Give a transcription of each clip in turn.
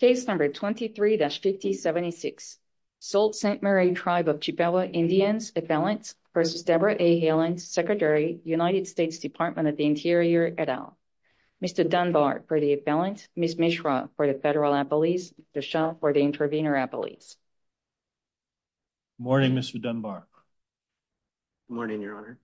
Case number 23-50-76. Sault Ste. Marie Tribe of Chippewa Indians, Appellants v. Debra A. Haaland, Secretary, United States Department of the Interior, et al. Mr. Dunbar for the Appellants, Ms. Mishra for the Federal Appellees, Dechant for the Intervenor Appellees. Good morning, Mr. Dunbar. Good morning, Your Honor.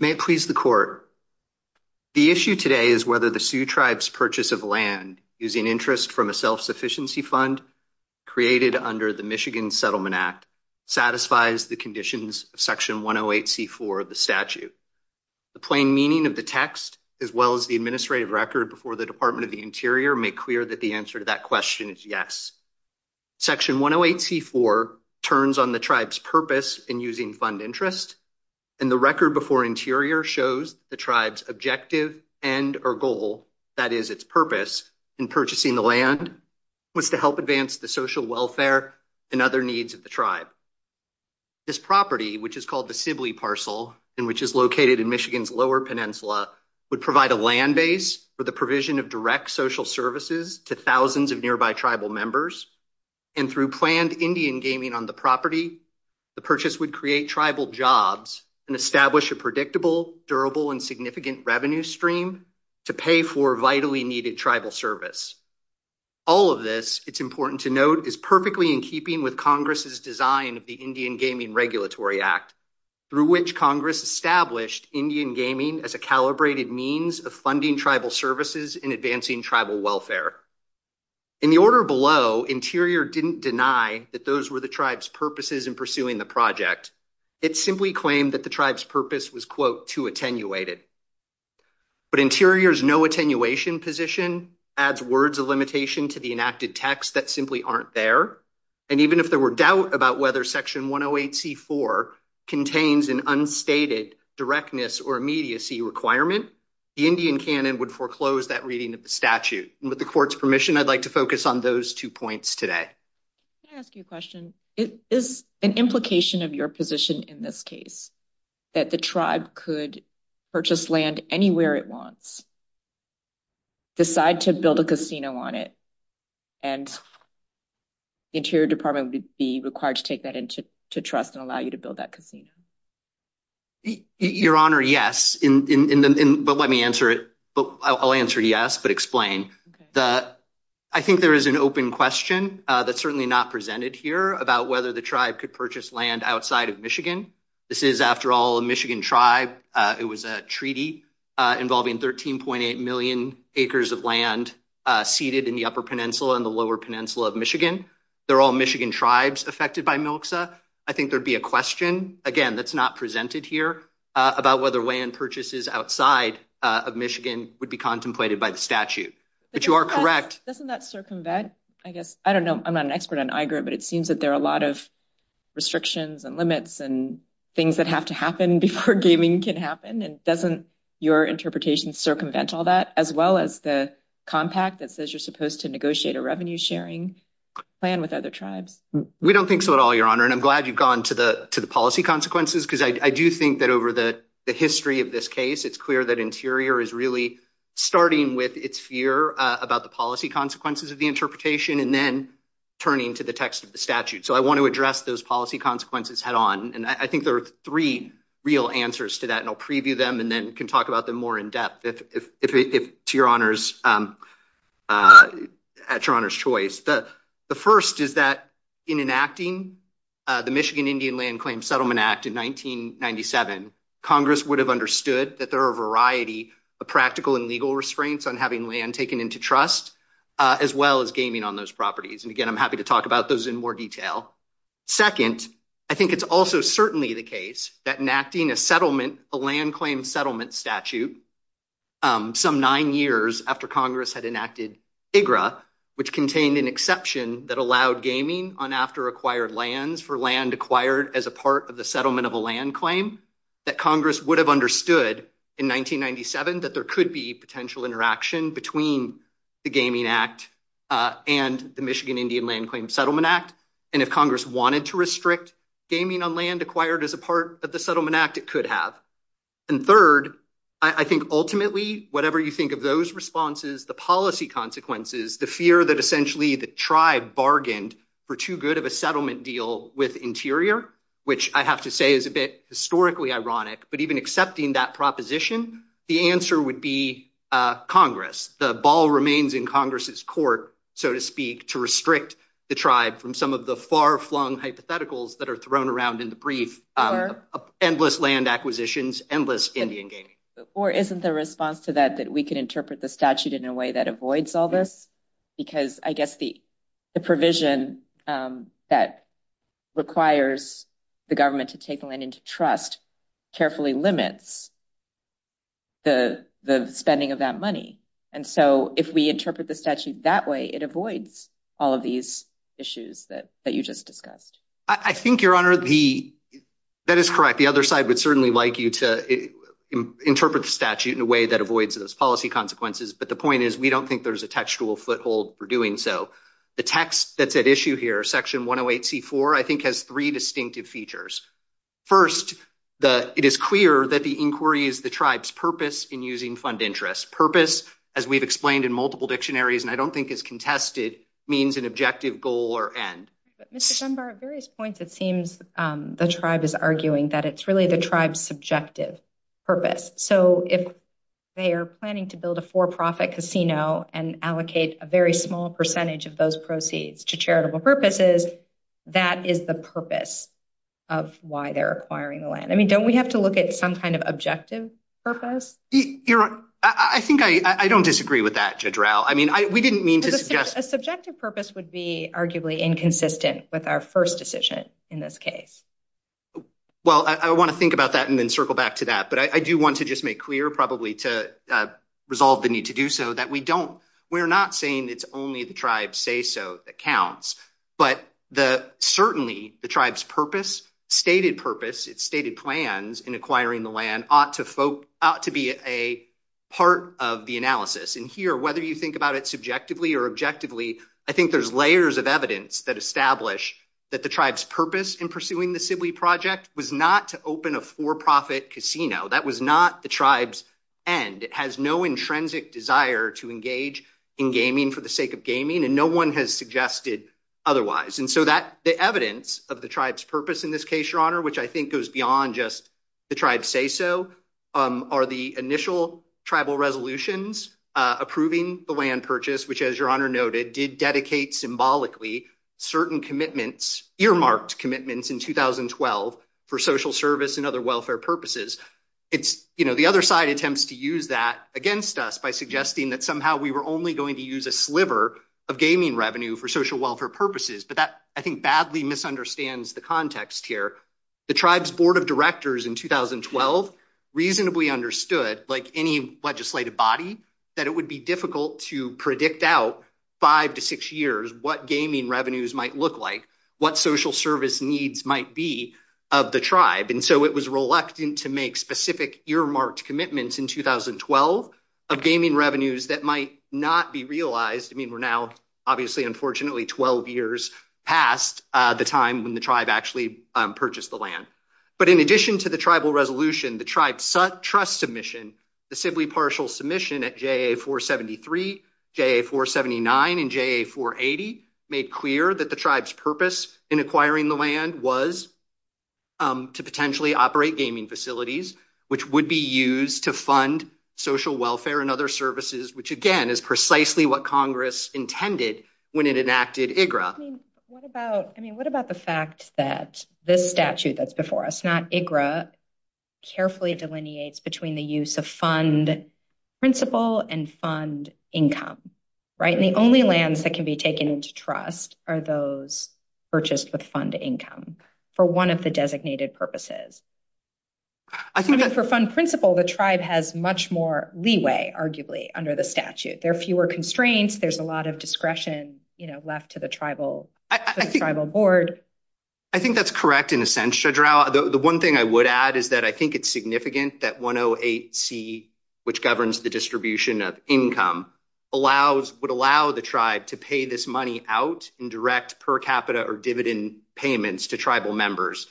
May it please the Court. The issue today is whether the Sioux Tribe's purchase of land using interest from a self-sufficiency fund created under the Michigan Settlement Act satisfies the conditions of Section 108c4 of the statute. The plain meaning of the text, as well as the administrative record before the Department of the Interior, make clear that the answer to that question is yes. Section 108c4 turns on the Tribe's purpose in using fund interest, and the record before Interior shows the Tribe's objective end or goal, that is, its purpose in purchasing the land, was to help advance the social welfare and other needs of the Tribe. This property, which is called the Sibley Parcel, and which is located in Michigan's would provide a land base for the provision of direct social services to thousands of nearby Tribal members, and through planned Indian gaming on the property, the purchase would create Tribal jobs and establish a predictable, durable, and significant revenue stream to pay for vitally needed Tribal service. All of this, it's important to note, is perfectly in keeping with Congress's design of the Indian Gaming Regulatory Act, through which Congress established Indian gaming as a calibrated means of funding Tribal services and advancing Tribal welfare. In the order below, Interior didn't deny that those were the Tribe's purposes in pursuing the project. It simply claimed that the Tribe's purpose was, quote, too attenuated. But Interior's no attenuation position adds words of limitation to the enacted text that simply aren't there, and even if there were doubt about whether Section 108c4 contains an unstated directness or immediacy requirement, the Indian Canon would foreclose that reading of the statute. And with the Court's permission, I'd like to focus on those two points today. Can I ask you a question? Is an implication of your position in this case that the Tribe could purchase land anywhere it wants, decide to build a casino on it, and Interior Department would be required to take to trust and allow you to build that casino? Your Honor, yes, but let me answer it. I'll answer yes, but explain. I think there is an open question that's certainly not presented here about whether the Tribe could purchase land outside of Michigan. This is, after all, a Michigan Tribe. It was a treaty involving 13.8 million acres of land seated in the Upper Peninsula and the Lower Peninsula of Michigan. They're all Michigan Tribes affected by MILXA. I think there'd be a question, again, that's not presented here about whether land purchases outside of Michigan would be contemplated by the statute. But you are correct. Doesn't that circumvent, I guess, I don't know, I'm not an expert on IGRIT, but it seems that there are a lot of restrictions and limits and things that have to happen before gaming can happen, and doesn't your interpretation circumvent all that, as well as the compact that says you're supposed to negotiate a revenue sharing? Plan with other Tribes. We don't think so at all, Your Honor, and I'm glad you've gone to the policy consequences, because I do think that over the history of this case, it's clear that Interior is really starting with its fear about the policy consequences of the interpretation and then turning to the text of the statute. So I want to address those policy consequences head on, and I think there are three real answers to that, and I'll preview them and then can talk about them more in depth. To your Honor's choice, the first is that in enacting the Michigan Indian Land Claim Settlement Act in 1997, Congress would have understood that there are a variety of practical and legal restraints on having land taken into trust, as well as gaming on those properties. And again, I'm happy to talk about those in more detail. Second, I think it's also certainly the case that enacting a settlement, a land claim settlement statute, some nine years after Congress had enacted IGRA, which contained an exception that allowed gaming on after acquired lands for land acquired as a part of the settlement of a land claim, that Congress would have understood in 1997 that there could be potential interaction between the Gaming Act and the Michigan Indian Land Claim Settlement Act, and if Congress wanted to restrict gaming on land acquired as a part of the Settlement Act, it could have. And third, I think ultimately, whatever you think of those responses, the policy consequences, the fear that essentially the tribe bargained for too good of a settlement deal with Interior, which I have to say is a bit historically ironic, but even accepting that proposition, the answer would be Congress. The ball remains in Congress's court, so to speak, to restrict the tribe from some of the far-flung hypotheticals that are thrown around in the brief, endless land acquisitions, endless Indian gaming. Or isn't the response to that that we could interpret the statute in a way that avoids all this? Because I guess the provision that requires the government to take the land into trust carefully limits the spending of that money. And so if we interpret the statute that way, it avoids all of these issues that you just discussed. I think, Your Honor, that is correct. The other side would certainly like you to interpret the statute in a way that avoids those policy consequences, but the point is we don't think there's a textual foothold for doing so. The text that's at issue here, Section 108c4, I think has three distinctive features. First, it is clear that the inquiry is the tribe's purpose in using fund interest. Purpose, as we've explained in multiple dictionaries, and I don't think is contested, means an objective goal or end. But, Mr. Dunbar, at various points, it seems the tribe is arguing that it's really the tribe's subjective purpose. So if they are planning to build a for-profit casino and allocate a very small percentage of those proceeds to charitable purposes, that is the purpose of why they're acquiring the land. I mean, don't we have to look at some kind of objective purpose? Your Honor, I think I don't disagree with that, Judge Rao. I mean, we didn't mean to suggest— A subjective purpose would be arguably inconsistent with our first decision in this case. Well, I want to think about that and then circle back to that, but I do want to just make clear probably to resolve the need to do so that we don't—we're not saying it's only the tribe's say-so that counts, but certainly the tribe's purpose, stated purpose, its stated plans in acquiring the land ought to be a part of the analysis. And here, whether you think about it subjectively or objectively, I think there's layers of evidence that establish that the tribe's purpose in pursuing the Sibley Project was not to open a for-profit casino. That was not the tribe's end. It has no intrinsic desire to engage in gaming for the sake of gaming, and no one has suggested otherwise. And so the evidence of the tribe's purpose in this case, Your Honor, which I think goes beyond just the tribe's say-so, are the initial tribal resolutions approving the land purchase, which, as Your Honor noted, did dedicate symbolically certain commitments, earmarked commitments in 2012 for social service and other welfare purposes. The other side attempts to use that against us by suggesting that somehow we were only going to use a sliver of gaming revenue for social welfare purposes, but that I think badly misunderstands the context here. The tribe's board of directors in 2012 reasonably understood, like any legislative body, that it would be difficult to predict out five to six years what gaming revenues might look like, what social service needs might be of the tribe. And so it was reluctant to make specific earmarked commitments in 2012 of gaming revenues that might not be realized. I mean, we're now, obviously, unfortunately, 12 years past the time when the tribe actually purchased the land. But in addition to the tribal resolution, the tribe's trust submission, the simply partial submission at JA-473, JA-479, and JA-480 made clear that the tribe's purpose in acquiring the land was to potentially operate gaming facilities, which would be used to again, is precisely what Congress intended when it enacted IGRA. I mean, what about the fact that this statute that's before us, not IGRA, carefully delineates between the use of fund principle and fund income, right? And the only lands that can be taken into trust are those purchased with fund income for one of the designated purposes. I think that for fund principle, the tribe has much more leeway, arguably, under the statute. There are fewer constraints. There's a lot of discretion left to the tribal board. I think that's correct in a sense, Judge Rao. The one thing I would add is that I think it's significant that 108C, which governs the distribution of income, would allow the tribe to pay this money out in direct per capita or dividend payments to tribal members.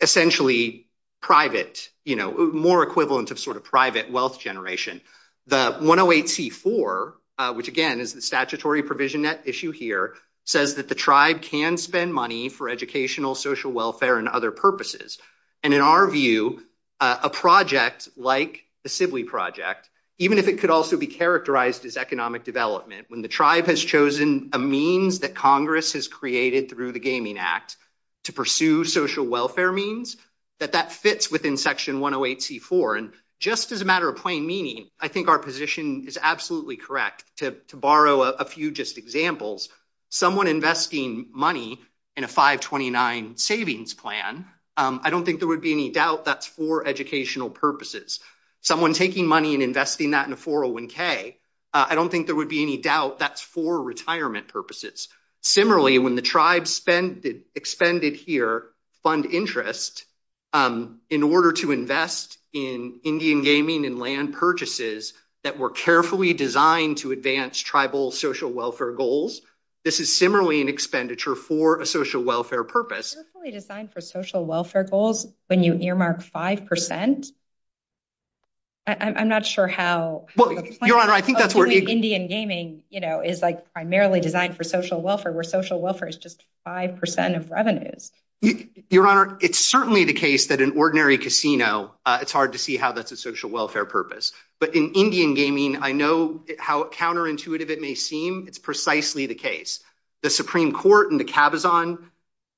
Essentially, private, you know, more equivalent of sort of private wealth generation. The 108C-4, which again is the statutory provision issue here, says that the tribe can spend money for educational, social welfare, and other purposes. And in our view, a project like the Sibley Project, even if it could also be characterized as economic development, when the tribe has chosen a means that Congress has created through the Gaming Act to pursue social welfare means, that that fits within Section 108C-4. And just as a matter of plain meaning, I think our position is absolutely correct. To borrow a few just examples, someone investing money in a 529 savings plan, I don't think there would be any doubt that's for educational purposes. Someone taking money and investing that in a 401K, I don't think there would be any doubt that's for retirement purposes. Similarly, when the tribes spend, expended here, fund interest in order to invest in Indian gaming and land purchases that were carefully designed to advance tribal social welfare goals, this is similarly an expenditure for a social welfare purpose. Carefully designed for social welfare goals when you earmark 5%? I'm not sure how... Your Honor, I think that's where... Primarily designed for social welfare, where social welfare is just 5% of revenues. Your Honor, it's certainly the case that an ordinary casino, it's hard to see how that's a social welfare purpose. But in Indian gaming, I know how counterintuitive it may seem. It's precisely the case. The Supreme Court and the Khabazan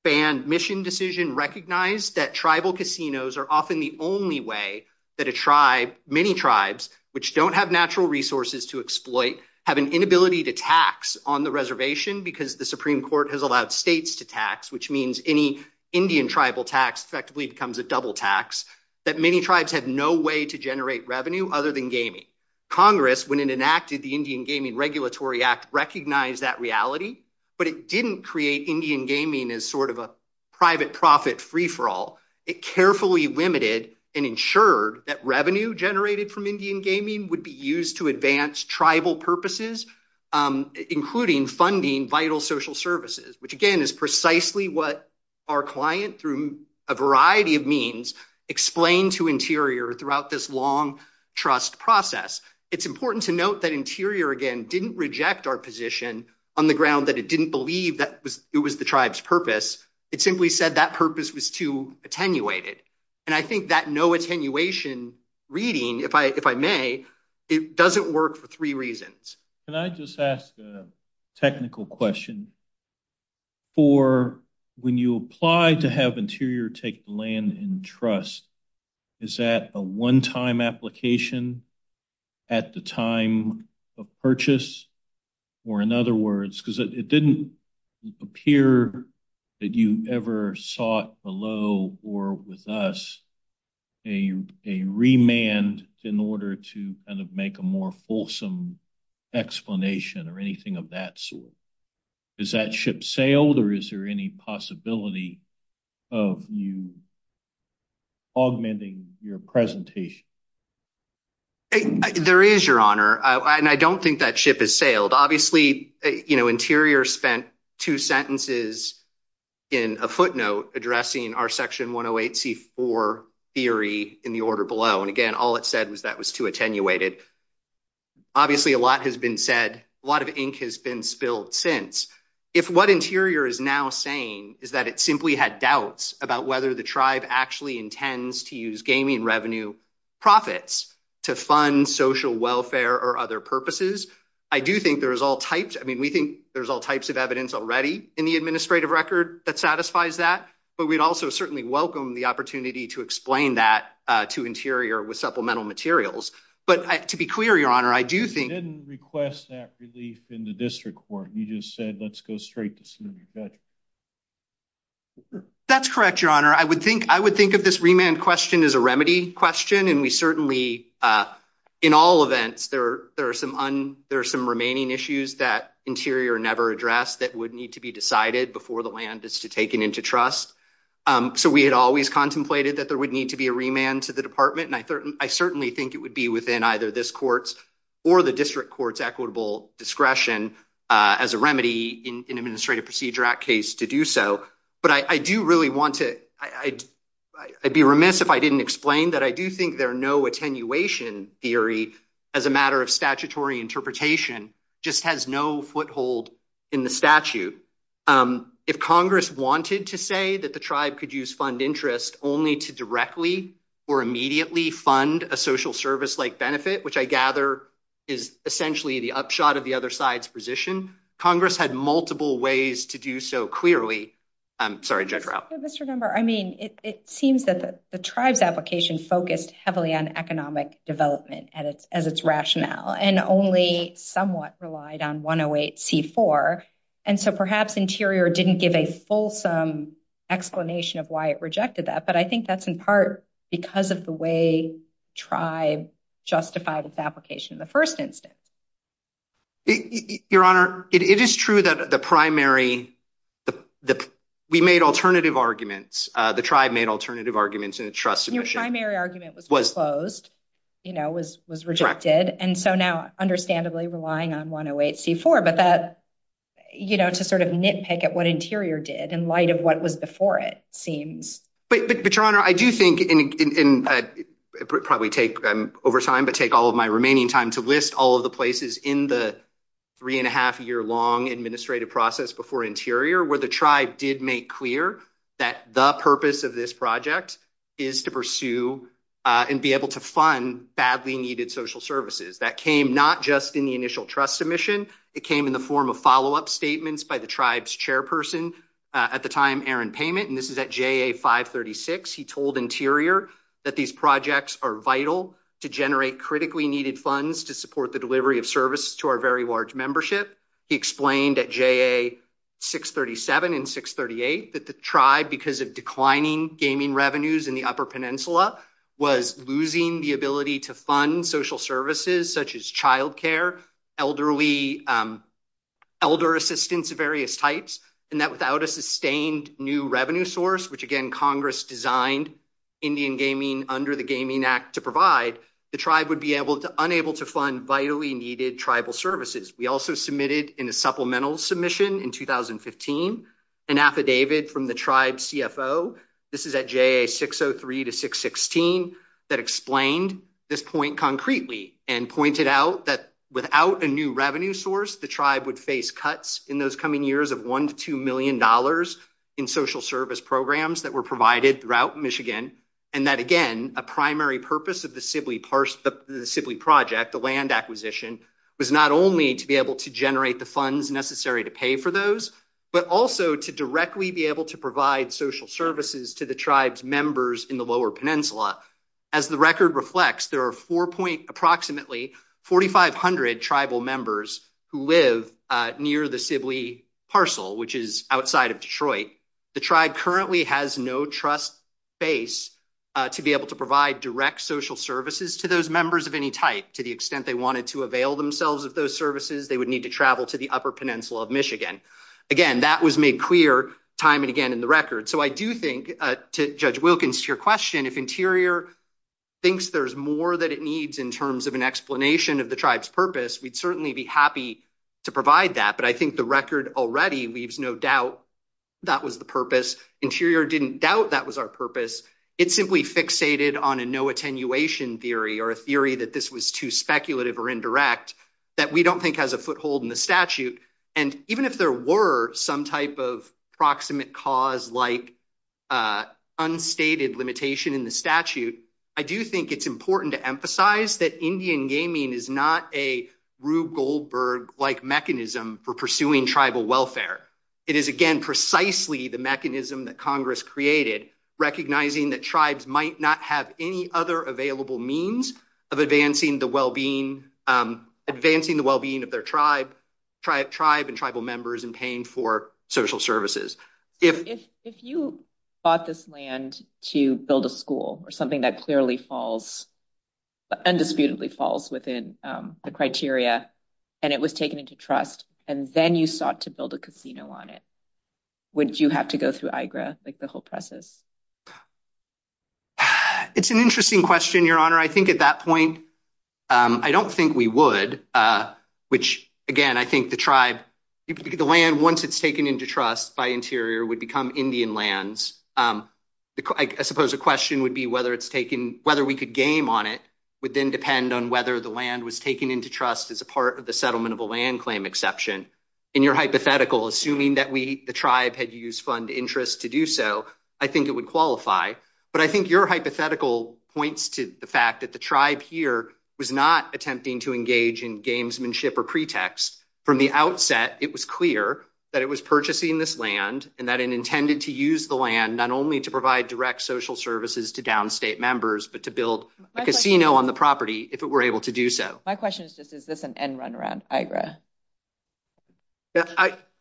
ban mission decision recognized that tribal casinos are often the only way that a tribe, many tribes, which don't have natural resources to exploit, have an inability to tax on the reservation because the Supreme Court has allowed states to tax, which means any Indian tribal tax effectively becomes a double tax, that many tribes have no way to generate revenue other than gaming. Congress, when it enacted the Indian Gaming Regulatory Act, recognized that reality, but it didn't create Indian gaming as sort of a private profit free-for-all. It carefully limited and ensured that revenue generated from Indian gaming would be used to advance tribal purposes, including funding vital social services, which, again, is precisely what our client, through a variety of means, explained to Interior throughout this long trust process. It's important to note that Interior, again, didn't reject our position on the ground that it didn't believe that it was the tribe's purpose. It simply said that purpose was too attenuated. I think that no attenuation reading, if I may, it doesn't work for three reasons. Can I just ask a technical question? When you apply to have Interior take land in trust, is that a one-time application at the time of purchase? Or in other words, because it didn't appear that you ever sought below or with us a remand in order to kind of make a more fulsome explanation or anything of that sort. Is that ship sailed or is there any possibility of you augmenting your presentation? There is, Your Honor, and I don't think that ship is sailed. Obviously, you know, Interior spent two sentences in a footnote addressing our Section 108c4 theory in the order below. And again, all it said was that was too attenuated. Obviously, a lot has been said. A lot of ink has been spilled since. If what Interior is now saying is that it simply had doubts about whether the tribe actually intends to use gaming revenue profits to fund social welfare or other purposes, I do think there is all types. I mean, we think there's all types of evidence already in the administrative record that satisfies that. But we'd also certainly welcome the opportunity to explain that to Interior with supplemental materials. But to be clear, Your Honor, I do think- You didn't request that relief in the district court. You just said, let's go straight to city judge. That's correct, Your Honor. I would think of this remand question as a remedy question. And we certainly, in all events, there are some remaining issues that Interior never addressed that would need to be decided before the land is taken into trust. So we had always contemplated that there would need to be a remand to the department. And I certainly think it would be within either this court's or the district court's equitable discretion as a remedy in an Administrative Procedure Act case to do so. But I do really want to- I'd be remiss if I didn't explain that I do think there are no attenuation theory as a matter of statutory interpretation, just has no foothold in the statute. If Congress wanted to say that the tribe could use fund interest only to directly or immediately fund a social service like benefit, which I gather is essentially the upshot of the other side's position. Congress had multiple ways to do so clearly. I'm sorry, Judge Rao. Mr. Gumber, I mean, it seems that the tribe's application focused heavily on economic development as its rationale and only somewhat relied on 108C4. And so perhaps Interior didn't give a fulsome explanation of why it rejected that. But I think that's in part because of the way tribe justified its application in the first instance. Your Honor, it is true that the primary- we made alternative arguments. The tribe made alternative arguments in its trust submission. Your primary argument was closed, you know, was rejected. And so now, understandably, relying on 108C4. But that, you know, to sort of nitpick at what Interior did in light of what was before it seems- But, Your Honor, I do think, and probably take over time, but take all of my remaining time to list all of the places in the three and a half year long administrative process before Interior where the tribe did make clear that the purpose of this project is to pursue and be able to fund badly needed social services. That came not just in the initial trust submission. It came in the form of follow-up statements by the tribe's chairperson at the time, Aaron Payment. And this is at JA 536. He told Interior that these projects are vital to generate critically needed funds to support the delivery of services to our very large membership. He explained at JA 637 and 638 that the tribe, because of declining gaming revenues in the Upper Peninsula, was losing the ability to fund social services such as child care, elder assistance of various types, and that without a sustained new revenue source, which again Congress designed Indian gaming under the Gaming Act to provide, the tribe would be unable to fund vitally needed tribal services. We also submitted in a supplemental submission in 2015 an affidavit from the tribe's CFO. This is at JA 603 to 616 that explained this point concretely and pointed out that without a new revenue source, the tribe would face cuts in those coming years of $1 to $2 million in social service programs that were provided throughout Michigan, and that again, a primary purpose of the Sibley project, the land acquisition, was not only to be able to generate the funds necessary to pay for those, but also to directly be able to provide social services to the tribe's members in the Lower Peninsula. As the record reflects, there are approximately 4,500 tribal members who live near the Sibley parcel, which is outside of Detroit. The tribe currently has no trust base to be able to provide direct social services to those members of any type. To the extent they wanted to avail themselves of those services, they would need to travel to the Upper Peninsula of Michigan. Again, that was made clear time and again in the record. So, I do think, to Judge Wilkins, to your question, if Interior thinks there's more that it needs in terms of an explanation of the tribe's purpose, we'd certainly be happy to provide that. But I think the record already leaves no doubt that was the purpose. Interior didn't doubt that was our purpose. It simply fixated on a no attenuation theory or a theory that this was too speculative or indirect that we don't think has a foothold in the statute. And even if there were some type of proximate cause like unstated limitation in the statute, I do think it's important to emphasize that Indian gaming is not a Rube Goldberg-like mechanism for pursuing tribal welfare. It is, again, precisely the mechanism that Congress created, recognizing that tribes might not have any other available means of advancing the well-being of their tribe and tribal members and paying for social services. If you bought this land to build a school or something that clearly falls, undisputedly falls within the criteria, and it was taken into trust, and then you sought to build a casino on it, would you have to go through IGRA, like the whole process? It's an interesting question, Your Honor. I think at that point, I don't think we would, which, again, I think the tribe, the land, once it's taken into trust by Interior, would become Indian lands. I suppose a question would be whether we could game on it would then depend on whether the land was taken into trust as a part of the settlement of a land claim exception. In your hypothetical, assuming that the tribe had used fund interest to do so, I think it would qualify. But I think your hypothetical points to the fact that the tribe here was not attempting to engage in gamesmanship or pretext. From the outset, it was clear that it was purchasing this land and that it intended to use the land not only to provide direct social services to downstate members, but to build a casino on the property if it were able to do so. My question is just, is this an end run around IGRA?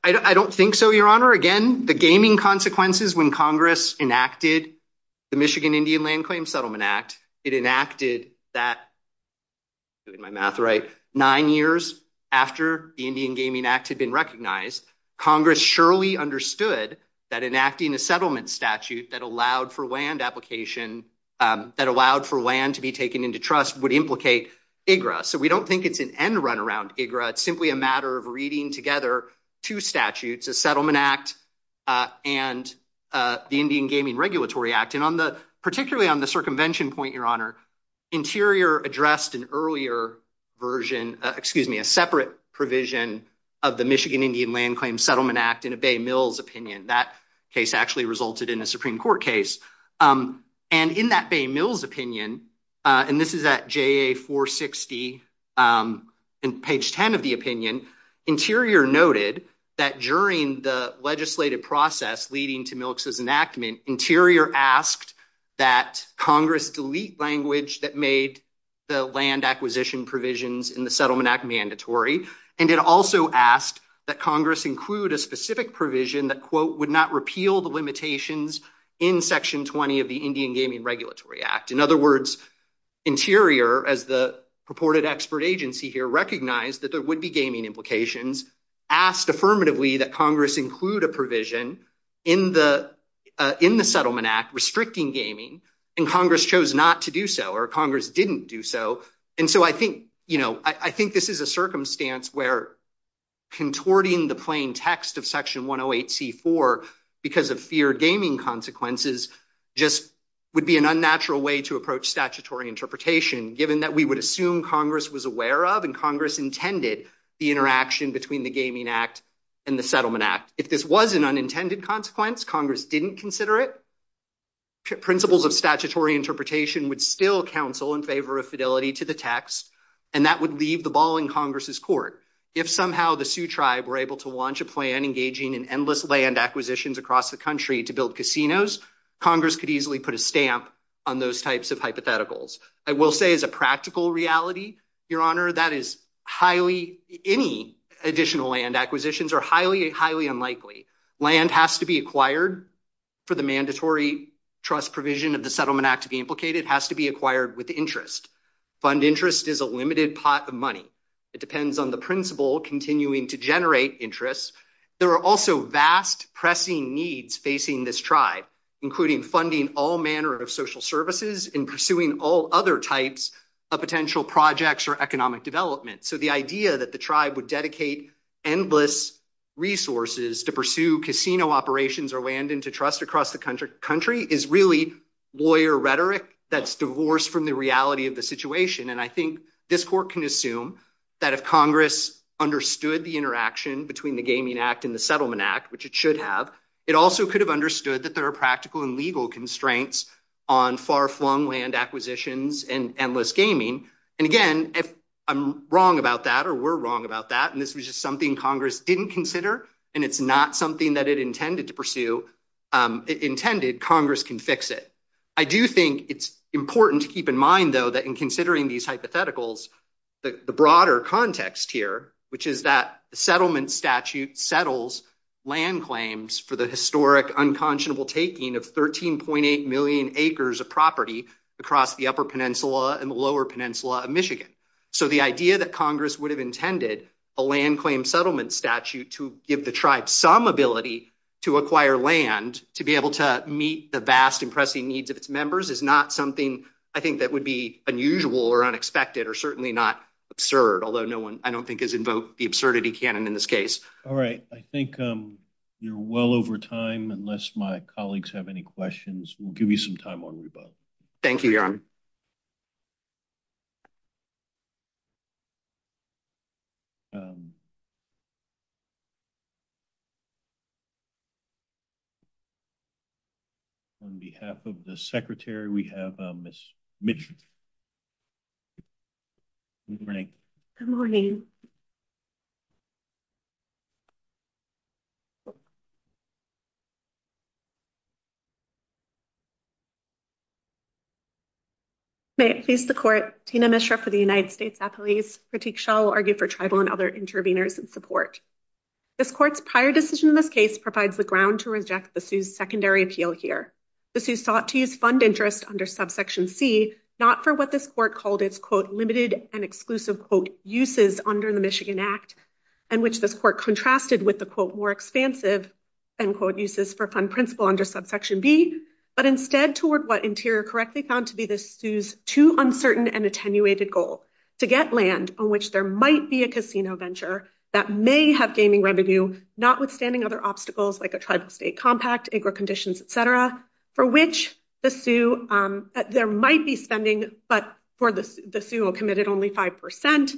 I don't think so, Your Honor. Again, the gaming consequences when Congress enacted the Michigan Indian Land Claim Settlement Act, it enacted that, doing my math right, nine years after the Indian Gaming Act had been recognized, Congress surely understood that enacting a settlement statute that allowed for land to be taken into trust would implicate IGRA. So we don't think it's an end run around IGRA. It's simply a matter of reading together two statutes, a settlement act and the Indian Gaming Regulatory Act. Particularly on the circumvention point, Your Honor, Interior addressed an earlier version, excuse me, a separate provision of the Michigan Indian Land Claim Settlement Act in a Bay Mills opinion. That case actually resulted in a Supreme Court case. In that Bay Mills opinion, and this is at JA 460, page 10 of the opinion, Interior noted that during the legislative process leading to Milks's enactment, Interior asked that Congress delete language that made the land acquisition provisions in the Settlement Act mandatory. And it also asked that Congress include a specific provision that, quote, would not repeal the limitations in section 20 of the Indian Gaming Regulatory Act. In other words, Interior, as the purported expert agency here, recognized that there affirmatively that Congress include a provision in the Settlement Act restricting gaming, and Congress chose not to do so, or Congress didn't do so. And so I think this is a circumstance where contorting the plain text of section 108C4 because of feared gaming consequences just would be an unnatural way to approach statutory interpretation, given that we would assume Congress was aware of and Congress intended the interaction between the Gaming Act and the Settlement Act. If this was an unintended consequence, Congress didn't consider it, principles of statutory interpretation would still counsel in favor of fidelity to the text, and that would leave the ball in Congress's court. If somehow the Sioux Tribe were able to launch a plan engaging in endless land acquisitions across the country to build casinos, Congress could easily put a stamp on those types of hypotheticals. I will say as a practical reality, Your Honor, that is highly, any additional land acquisitions are highly, highly unlikely. Land has to be acquired for the mandatory trust provision of the Settlement Act to be implicated, has to be acquired with interest. Fund interest is a limited pot of money. It depends on the principle continuing to generate interest. There are also vast pressing needs facing this tribe, including funding all manner of types of potential projects or economic development. So the idea that the tribe would dedicate endless resources to pursue casino operations or land into trust across the country is really lawyer rhetoric that's divorced from the reality of the situation. And I think this court can assume that if Congress understood the interaction between the Gaming Act and the Settlement Act, which it should have, it also could have understood that there are practical and legal constraints on far-flung land acquisitions and endless gaming. And again, if I'm wrong about that, or we're wrong about that, and this was just something Congress didn't consider, and it's not something that it intended to pursue, it intended Congress can fix it. I do think it's important to keep in mind, though, that in considering these hypotheticals, the broader context here, which is that the settlement statute settles land claims for the historic unconscionable taking of 13.8 million acres of property across the Upper Peninsula and the Lower Peninsula of Michigan. So the idea that Congress would have intended a land claim settlement statute to give the tribe some ability to acquire land to be able to meet the vast and pressing needs of its members is not something I think that would be unusual or unexpected or certainly not absurd, although no one, I don't think, has invoked the absurdity canon in this case. All right. I think you're well over time, unless my colleagues have any questions. We'll give you some time on rebuttal. Thank you, Your Honor. On behalf of the Secretary, we have Ms. Mitchell. Good morning. Good morning. May it please the Court, Tina Mishra for the United States Appellees. Critique shall argue for tribal and other interveners in support. This Court's prior decision in this case provides the ground to reject the Sioux's secondary appeal here. The Sioux sought to use fund interest under subsection C, not for what this Court called its, quote, limited and exclusive, quote, uses under the Michigan Act and which this Court contrasted with the, quote, more expansive, end quote, uses for fund principle under subsection B, but instead toward what Interior correctly found to be the Sioux's too uncertain and attenuated goal to get land on which there might be a casino venture that may have gaming revenue, notwithstanding other obstacles like a tribal state compact, acre conditions, et cetera, for which the Sioux, there might be spending, but the Sioux committed only 5%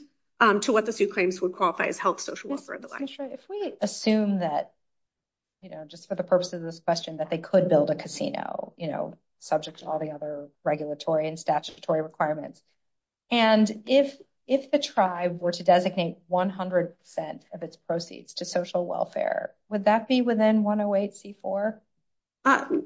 to what the Sioux claims would qualify as health, social welfare, and the like. Ms. Mishra, if we assume that, you know, just for the purpose of this question, that they could build a casino, you know, subject to all the other regulatory and statutory requirements, and if the tribe were to designate 100% of its proceeds to social welfare, would that be within 108C4?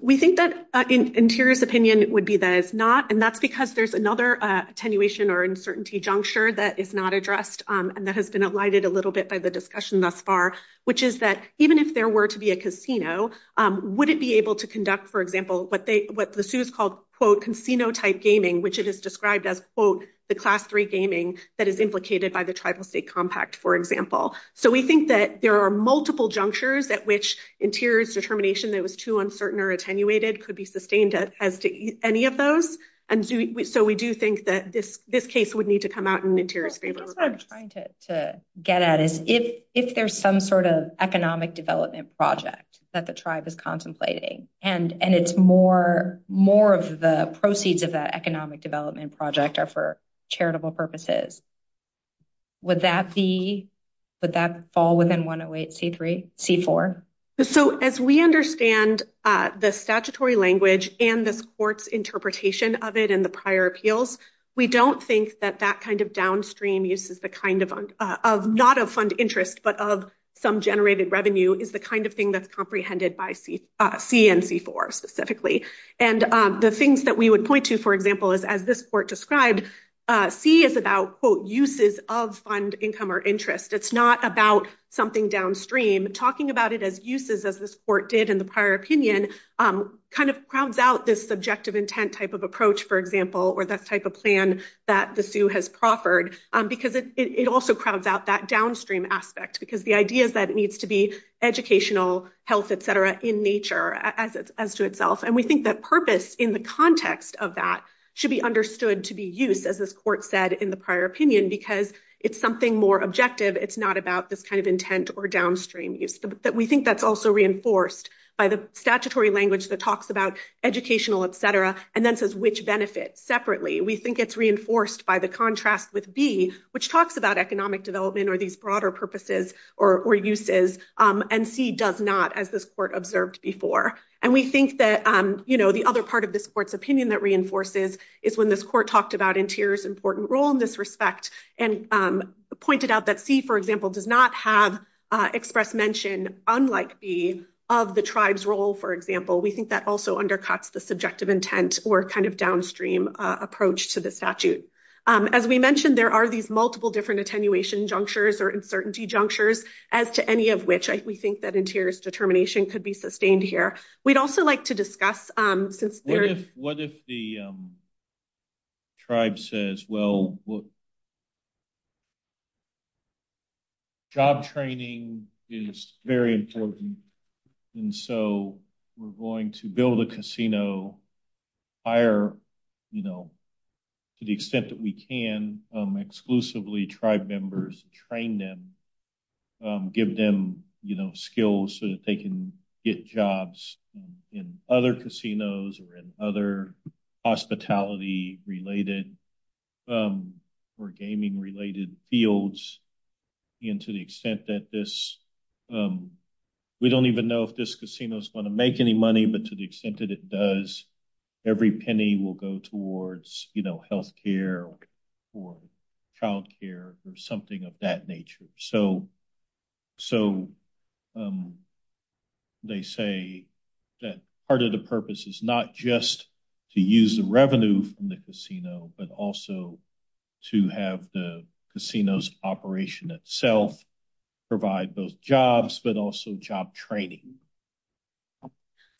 We think that Interior's opinion would be that it's not, and that's because there's another attenuation or uncertainty juncture that is not addressed and that has been alighted a little bit by the discussion thus far, which is that even if there were to be a casino, would it be able to conduct, for example, what the Sioux's called, quote, casino-type gaming, which it has described as, quote, the class three gaming that is implicated by the tribal state compact, for example. So we think that there are multiple junctures at which Interior's determination that it was too uncertain or attenuated could be sustained as to any of those, and so we do think that this case would need to come out in Interior's favor. I guess what I'm trying to get at is if there's some sort of economic development project that the tribe is contemplating, and it's more of the proceeds of that economic development project are for charitable purposes, would that be, would that fall within 108C3? C4? So as we understand the statutory language and this court's interpretation of it in the prior appeals, we don't think that that kind of downstream use is the kind of, not of fund interest, but of some generated revenue is the kind of thing that's comprehended by C and C4 specifically. And the things that we would point to, for example, is as this court described, C is about, quote, uses of income or interest. It's not about something downstream. Talking about it as uses, as this court did in the prior opinion, kind of crowds out this subjective intent type of approach, for example, or that type of plan that the Sioux has proffered, because it also crowds out that downstream aspect, because the idea is that it needs to be educational, health, et cetera, in nature as to itself. And we think that purpose in the context of that should be understood to be use, as this court said in the prior opinion, because it's something more objective. It's not about this kind of intent or downstream use. We think that's also reinforced by the statutory language that talks about educational, et cetera, and then says which benefits separately. We think it's reinforced by the contrast with B, which talks about economic development or these broader purposes or uses, and C does not, as this court observed before. And we think that the other part of this court's opinion that reinforces is when this court talked about interior's important role in this respect and pointed out that C, for example, does not have express mention, unlike B, of the tribe's role, for example. We think that also undercuts the subjective intent or kind of downstream approach to the statute. As we mentioned, there are these multiple different attenuation junctures or uncertainty junctures, as to any of which we think that interior's important. I think the tribe says, well, job training is very important, and so we're going to build a casino, hire, you know, to the extent that we can, exclusively tribe members, train them, give them, you know, skills so that they can get jobs in other casinos or in other hospitality-related or gaming-related fields, and to the extent that this, we don't even know if this casino's going to make any money, but to the extent that it does, every penny will go towards, you know, health care or child care or something of that nature. So, they say that part of the purpose is not just to use the revenue from the casino, but also to have the casino's operation itself provide both jobs, but also job training.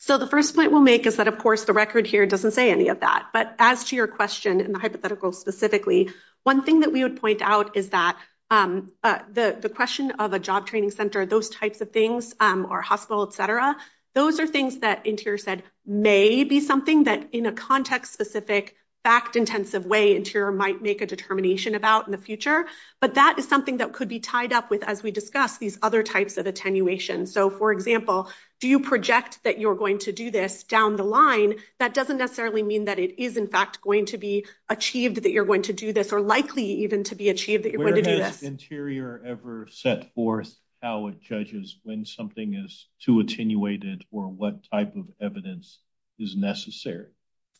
So, the first point we'll make is that, of course, the record here doesn't say any of that, but as to your question and the hypothetical specifically, one thing that we would point out is that the question of a job training center, those types of things, or hospital, et cetera, those are things that Interior said may be something that, in a context-specific, fact-intensive way, Interior might make a determination about in the future, but that is something that could be tied up with, as we discussed, these other types of attenuation. So, for example, do you project that you're going to do this down the line? That doesn't necessarily mean that it is, in fact, going to be achieved that you're going to do this, or likely even to be achieved that you're going to do this. Where has Interior ever set forth how it judges when something is too attenuated, or what type of evidence is necessary?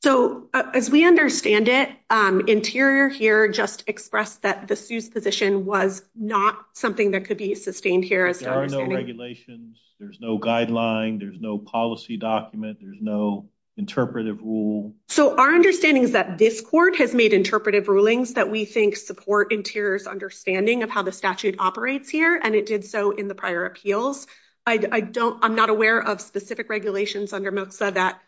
So, as we understand it, Interior here just expressed that the SUE's position was not something that could be sustained here, as to our understanding. There are no regulations, there's no guideline, there's no policy document, there's no interpretive rule. So, our understanding is that this Court has made interpretive rulings that we think support Interior's understanding of how the statute operates here, and it did so in the prior appeals. I'm not aware of specific regulations under MILXA that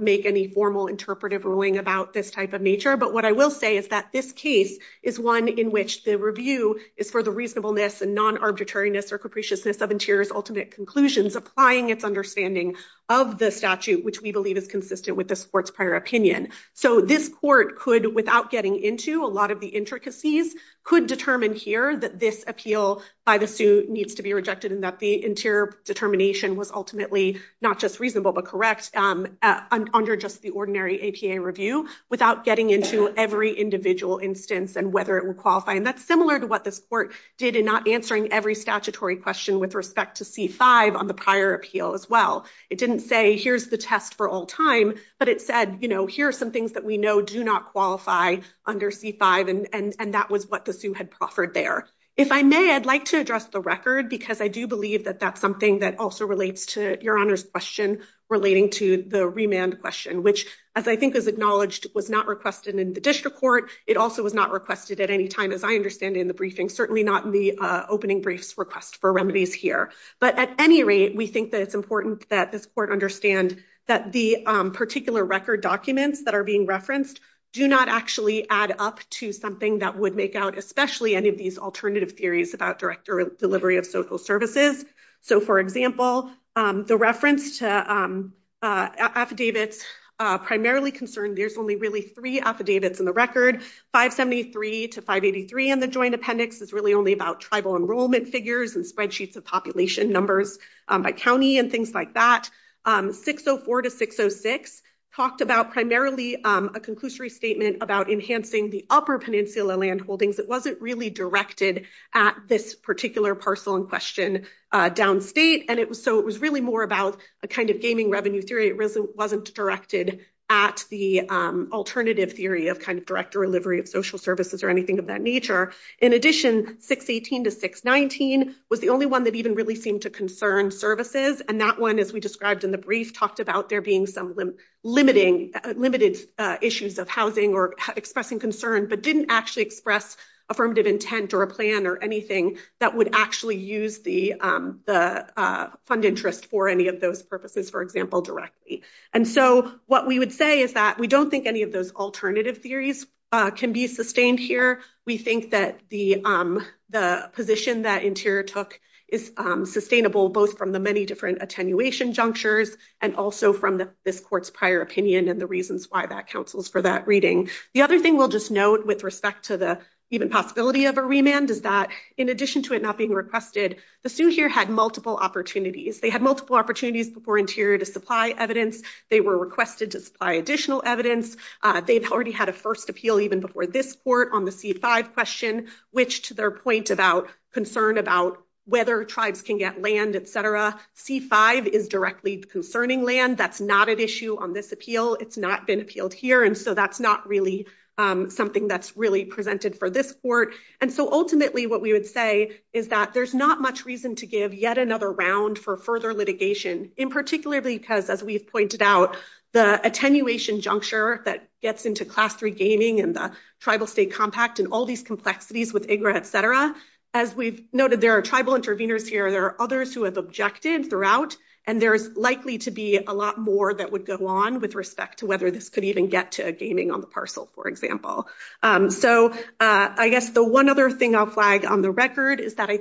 make any formal interpretive ruling about this type of nature, but what I will say is that this case is one in which the review is for the reasonableness and non-arbitrariness or capriciousness of Interior's ultimate conclusions, applying its understanding of the statute, which we believe is consistent with this Court's prior opinion. So, this Court could, without getting into a lot of the intricacies, could determine here that this appeal by the SUE needs to be rejected and that the Interior determination was ultimately not just reasonable but correct under just the ordinary APA review, without getting into every individual instance and whether it would qualify. And that's similar to what this Court did in not answering every statutory question with respect to C-5 on the prior appeal as well. It didn't say, here's the test for all time, but it said, you know, here are some things that we know do not qualify under C-5, and that was what the SUE had proffered there. If I may, I'd like to address the record, because I do believe that that's something that also relates to Your Honor's question relating to the remand question, which, as I think is acknowledged, was not requested in the District Court. It also was not requested at any time, as I understand it, in the briefing, certainly not in the opening brief's request for remedies here. But at any rate, we think that it's important that this Court understand that the particular record documents that are being referenced do not actually add up to something that would make out especially any of these alternative theories about direct delivery of social services. So, for example, the reference to affidavits primarily concerned there's only really three affidavits in the record. 573 to 583 in the joint appendix is only about tribal enrollment figures and spreadsheets of population numbers by county and things like that. 604 to 606 talked about primarily a conclusory statement about enhancing the upper peninsula land holdings. It wasn't really directed at this particular parcel in question downstate, and so it was really more about a kind of gaming revenue theory. It wasn't directed at the alternative theory of kind of direct delivery of social services or anything of that nature. In addition, 618 to 619 was the only one that even really seemed to concern services, and that one, as we described in the brief, talked about there being some limited issues of housing or expressing concern but didn't actually express affirmative intent or a plan or anything that would actually use the fund interest for any of those purposes, for example, directly. And so what we would say is that we don't think any of those alternative theories can be sustained here. We think that the position that Interior took is sustainable both from the many different attenuation junctures and also from this court's prior opinion and the reasons why that counsels for that reading. The other thing we'll just note with respect to the even possibility of a remand is that in addition to it not being requested, the sue here had multiple opportunities. They had multiple opportunities before Interior to supply evidence. They were requested to supply additional evidence. They've already had a first appeal even before this court on the C-5 question, which to their point about concern about whether tribes can get land, et cetera, C-5 is directly concerning land. That's not an issue on this appeal. It's not been appealed here, and so that's not really something that's really presented for this court. And so ultimately what we would say is that there's not much reason to give yet another round for further litigation, in particularly because, as we've pointed out, the attenuation juncture that gets into Class III gaming and the tribal state compact and all these complexities with IGRA, et cetera, as we've noted, there are tribal interveners here. There are others who have objected throughout, and there's likely to be a lot more that would go on with respect to whether this could even get to gaming on the parcel, for example. So I guess the one other thing I'll flag on the record is that I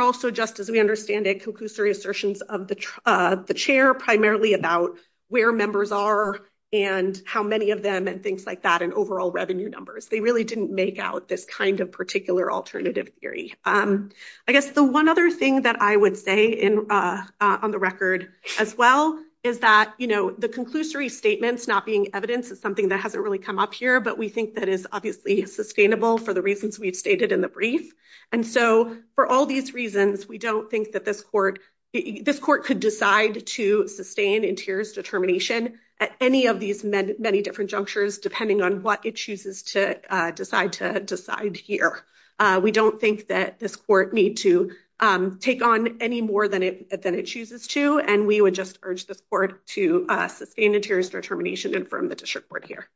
also, just as we understand it, conclusory assertions of the chair primarily about where members are and how many of them and things like that and overall revenue numbers. They really didn't make out this kind of particular alternative theory. I guess the one other thing that I would say on the record as well is that the conclusory statements not being evidence is something that hasn't really come up here, but we think that is obviously sustainable for the reasons we've stated in the brief. And so for all these reasons, we don't think that this court could decide to sustain interiors determination at any of these many different junctures, depending on what it chooses to decide here. We don't think that this court need to take on any more than it chooses to, and we would just urge this court to sustain interiors determination and from the district court here.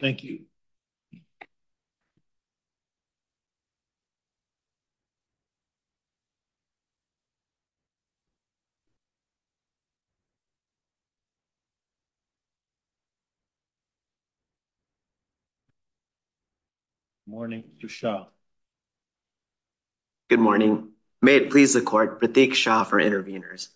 Thank you. Good morning to Shah. Good morning. May it please the court, Pratik Shah for interveners.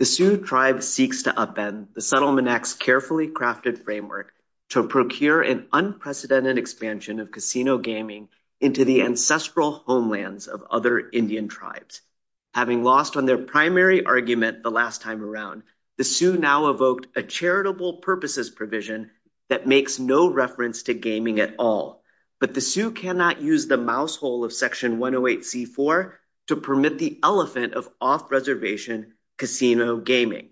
The Sioux tribe seeks to upend the settlement X carefully crafted framework to procure an unprecedented expansion of casino gaming into the ancestral homelands of other Indian tribes. Having lost on their primary argument the last time around, the Sioux now evoked a charitable purposes provision that makes no reference to gaming at all. But the Sioux cannot use the casino gaming.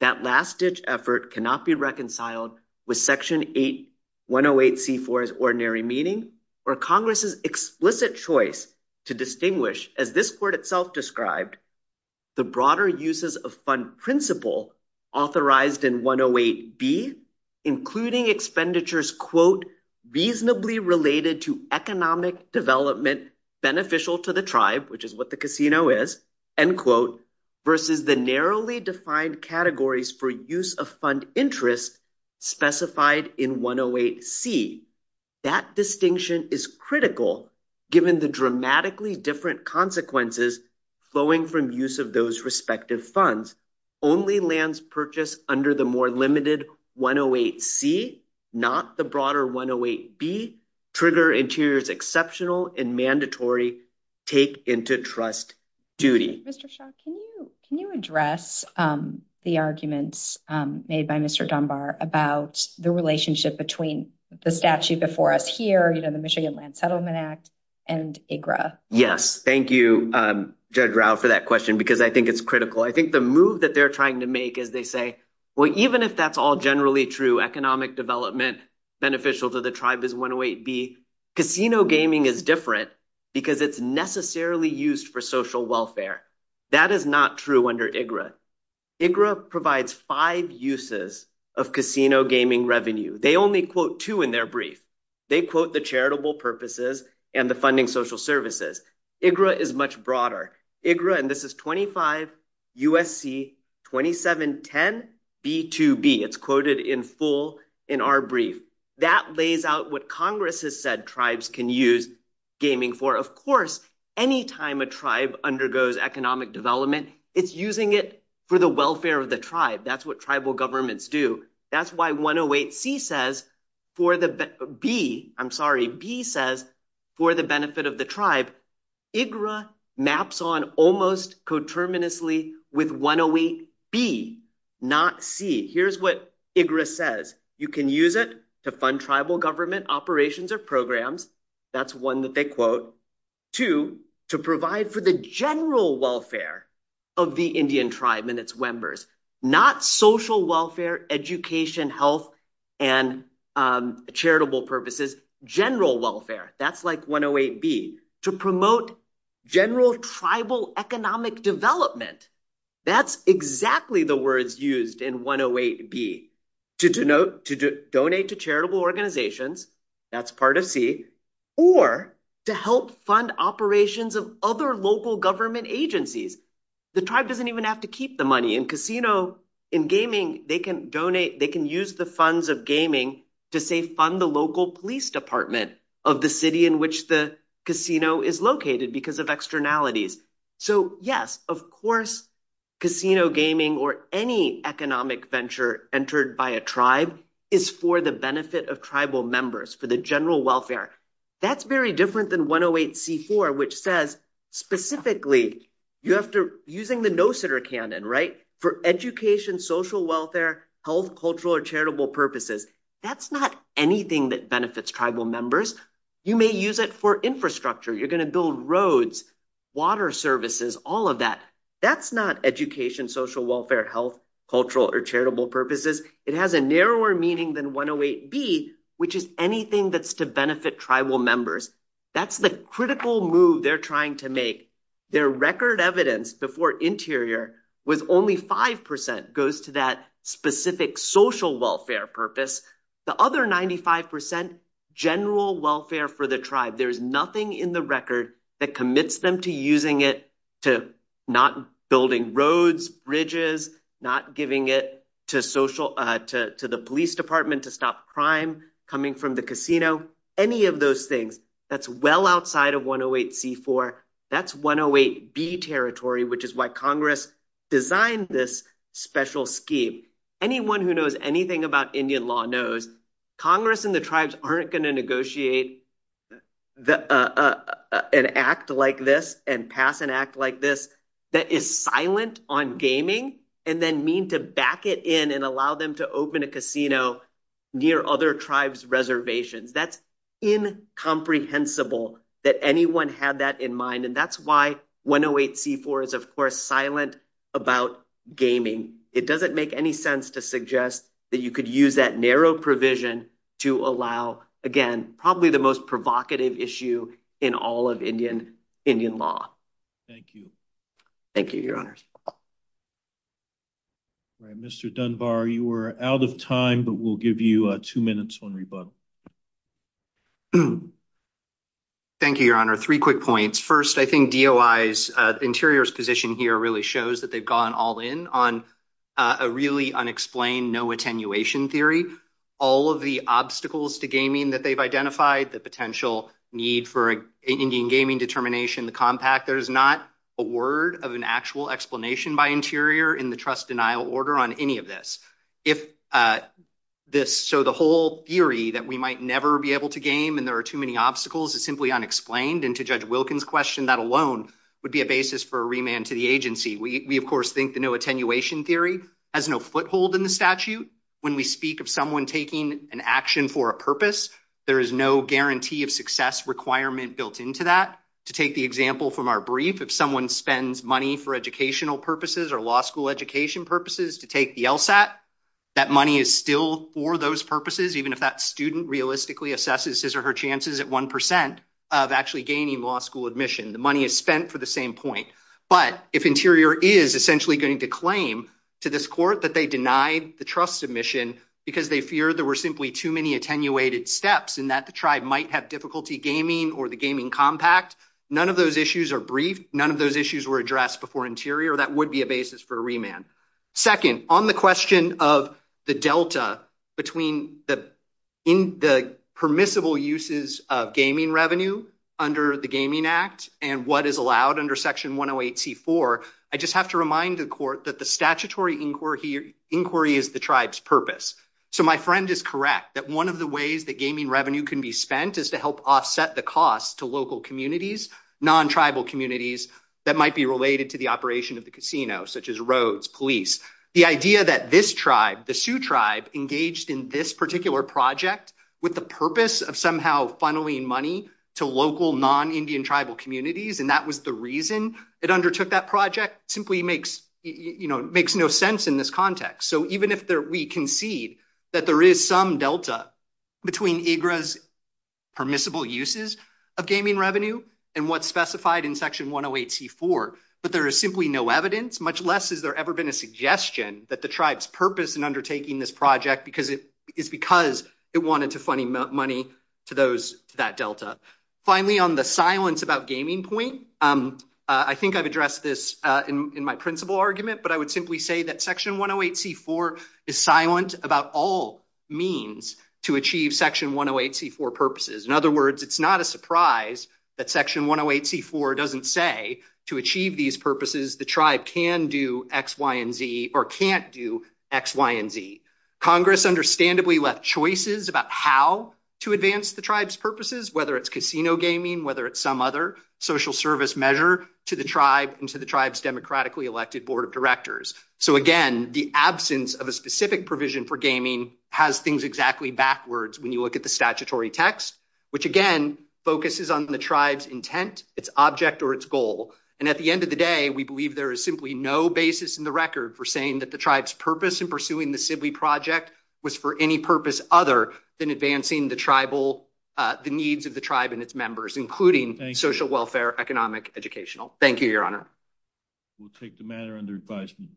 That last-ditch effort cannot be reconciled with Section 108C4's ordinary meaning or Congress's explicit choice to distinguish, as this court itself described, the broader uses of fund principle authorized in 108B, including expenditures, quote, reasonably related to economic development beneficial to the tribe, which is what the narrowly defined categories for use of fund interest specified in 108C. That distinction is critical given the dramatically different consequences flowing from use of those respective funds. Only lands purchased under the more limited 108C, not the broader 108B, trigger interiors exceptional and mandatory take into trust duty. Mr. Shah, can you address the arguments made by Mr. Dunbar about the relationship between the statute before us here, you know, the Michigan Land Settlement Act and IGRA? Yes, thank you, Judge Rauh, for that question because I think it's critical. I think the move that they're trying to make is they say, well, even if that's all is different because it's necessarily used for social welfare. That is not true under IGRA. IGRA provides five uses of casino gaming revenue. They only quote two in their brief. They quote the charitable purposes and the funding social services. IGRA is much broader. IGRA, and this is 25 U.S.C. 2710B2B. It's quoted in full in our brief. That lays out what Congress has said tribes can use gaming for. Of course, any time a tribe undergoes economic development, it's using it for the welfare of the tribe. That's what tribal governments do. That's why 108C says for the, B, I'm sorry, B says for the benefit of the tribe. IGRA maps on almost coterminously with 108B, not C. Here's what IGRA says. You can use it to fund tribal government operations or programs. That's one that they quote. Two, to provide for the general welfare of the Indian tribe and its members, not social welfare, education, health, and charitable purposes, general welfare. That's like 108B. To promote general tribal economic development. That's exactly the words used in 108B. To denote, to donate to charitable organizations. That's part of C. Or to help fund operations of other local government agencies. The tribe doesn't even have to keep the money. In casino, in gaming, they can donate, they can use the funds of gaming to, say, fund the local police department of the city in which the casino is located because of externalities. So, yes, of course, casino gaming or any economic venture entered by a tribe is for the benefit of tribal members, for the general welfare. That's very different than 108C4, which says, specifically, you have to, using the no-sitter canon, right, for education, social welfare, health, cultural, or charitable purposes. That's not anything that benefits tribal members. You may use it for infrastructure. You're going to build roads, water services, all of that. That's not education, social welfare, health, cultural, or charitable purposes. It has a narrower meaning than 108B, which is anything that's to benefit tribal members. That's the critical move they're trying to make. Their record evidence before Interior was only 5% goes to that specific social welfare purpose. The other 95%, general welfare for the tribe. There's nothing in the record that commits them to using it, to not building roads, bridges, not giving it to the police department to stop crime coming from the casino, any of those things. That's well outside of 108C4. That's 108B territory, which is why Congress designed this special scheme. Anyone who knows anything about Indian law knows Congress and the tribes aren't going to negotiate an act like this and pass an act like this that is silent on gaming and then mean to back it in and allow them to open a casino near other tribes' reservations. That's incomprehensible that anyone had that in mind. That's why 108C4 is, of course, silent about gaming. It doesn't make any sense to suggest that you could use that narrow provision to allow, again, probably the most provocative issue in all of Indian law. Thank you. Thank you, Your Honors. All right. Mr. Dunbar, you are out of time, but we'll give you two minutes on rebuttal. Thank you, Your Honor. Three quick points. First, I think DOI's interior's position here really shows that they've gone all in on a really unexplained no attenuation theory. All of the obstacles to gaming that they've identified, the potential need for Indian gaming determination, the compact, there's not a word of an actual explanation by interior in the trust denial order on any of this. So the whole theory that we might never be able to game and there are too many obstacles is simply unexplained. And to Judge Wilkins' question, that alone would be a basis for a remand to the agency. We, of course, think the no attenuation theory has no foothold in the statute. When we speak of someone taking an action for a purpose, there is no guarantee of success requirement built into that. To take the example from our brief, if someone spends money for educational purposes or law school education purposes to take the LSAT, that money is still for those purposes, even if that student realistically assesses his or her chances at 1% of actually gaining law school admission. The money is spent for the same point. But if interior is essentially going to claim to this court that they denied the trust submission because they fear there were simply too many attenuated steps and that the tribe might have difficulty gaming or the gaming compact, none of those issues are briefed. None of those issues were addressed before interior. That would be a basis for a remand. Second, on the question of the delta between the permissible uses of gaming revenue under the Gaming Act and what is allowed under Section 108C4, I just have to remind the court that the statutory inquiry is the tribe's offset the cost to local communities, non-tribal communities that might be related to the operation of the casino, such as roads, police. The idea that this tribe, the Sioux tribe, engaged in this particular project with the purpose of somehow funneling money to local non-Indian tribal communities, and that was the reason it undertook that project, simply makes no sense in this of gaming revenue and what's specified in Section 108C4. But there is simply no evidence, much less has there ever been a suggestion that the tribe's purpose in undertaking this project is because it wanted to funnel money to that delta. Finally, on the silence about gaming point, I think I've addressed this in my principal argument, but I would simply say that Section 108C4 purposes. In other words, it's not a surprise that Section 108C4 doesn't say to achieve these purposes, the tribe can do X, Y, and Z or can't do X, Y, and Z. Congress understandably left choices about how to advance the tribe's purposes, whether it's casino gaming, whether it's some other social service measure to the tribe and to the tribe's democratically elected board of directors. So again, the absence of a specific provision for gaming has things exactly backwards when you look at the statutory text, which again, focuses on the tribe's intent, its object, or its goal. And at the end of the day, we believe there is simply no basis in the record for saying that the tribe's purpose in pursuing the Sibley Project was for any purpose other than advancing the tribal, the needs of the tribe and its members, including social welfare, economic, educational. Thank you, Your Honor. We'll take the matter under advisement.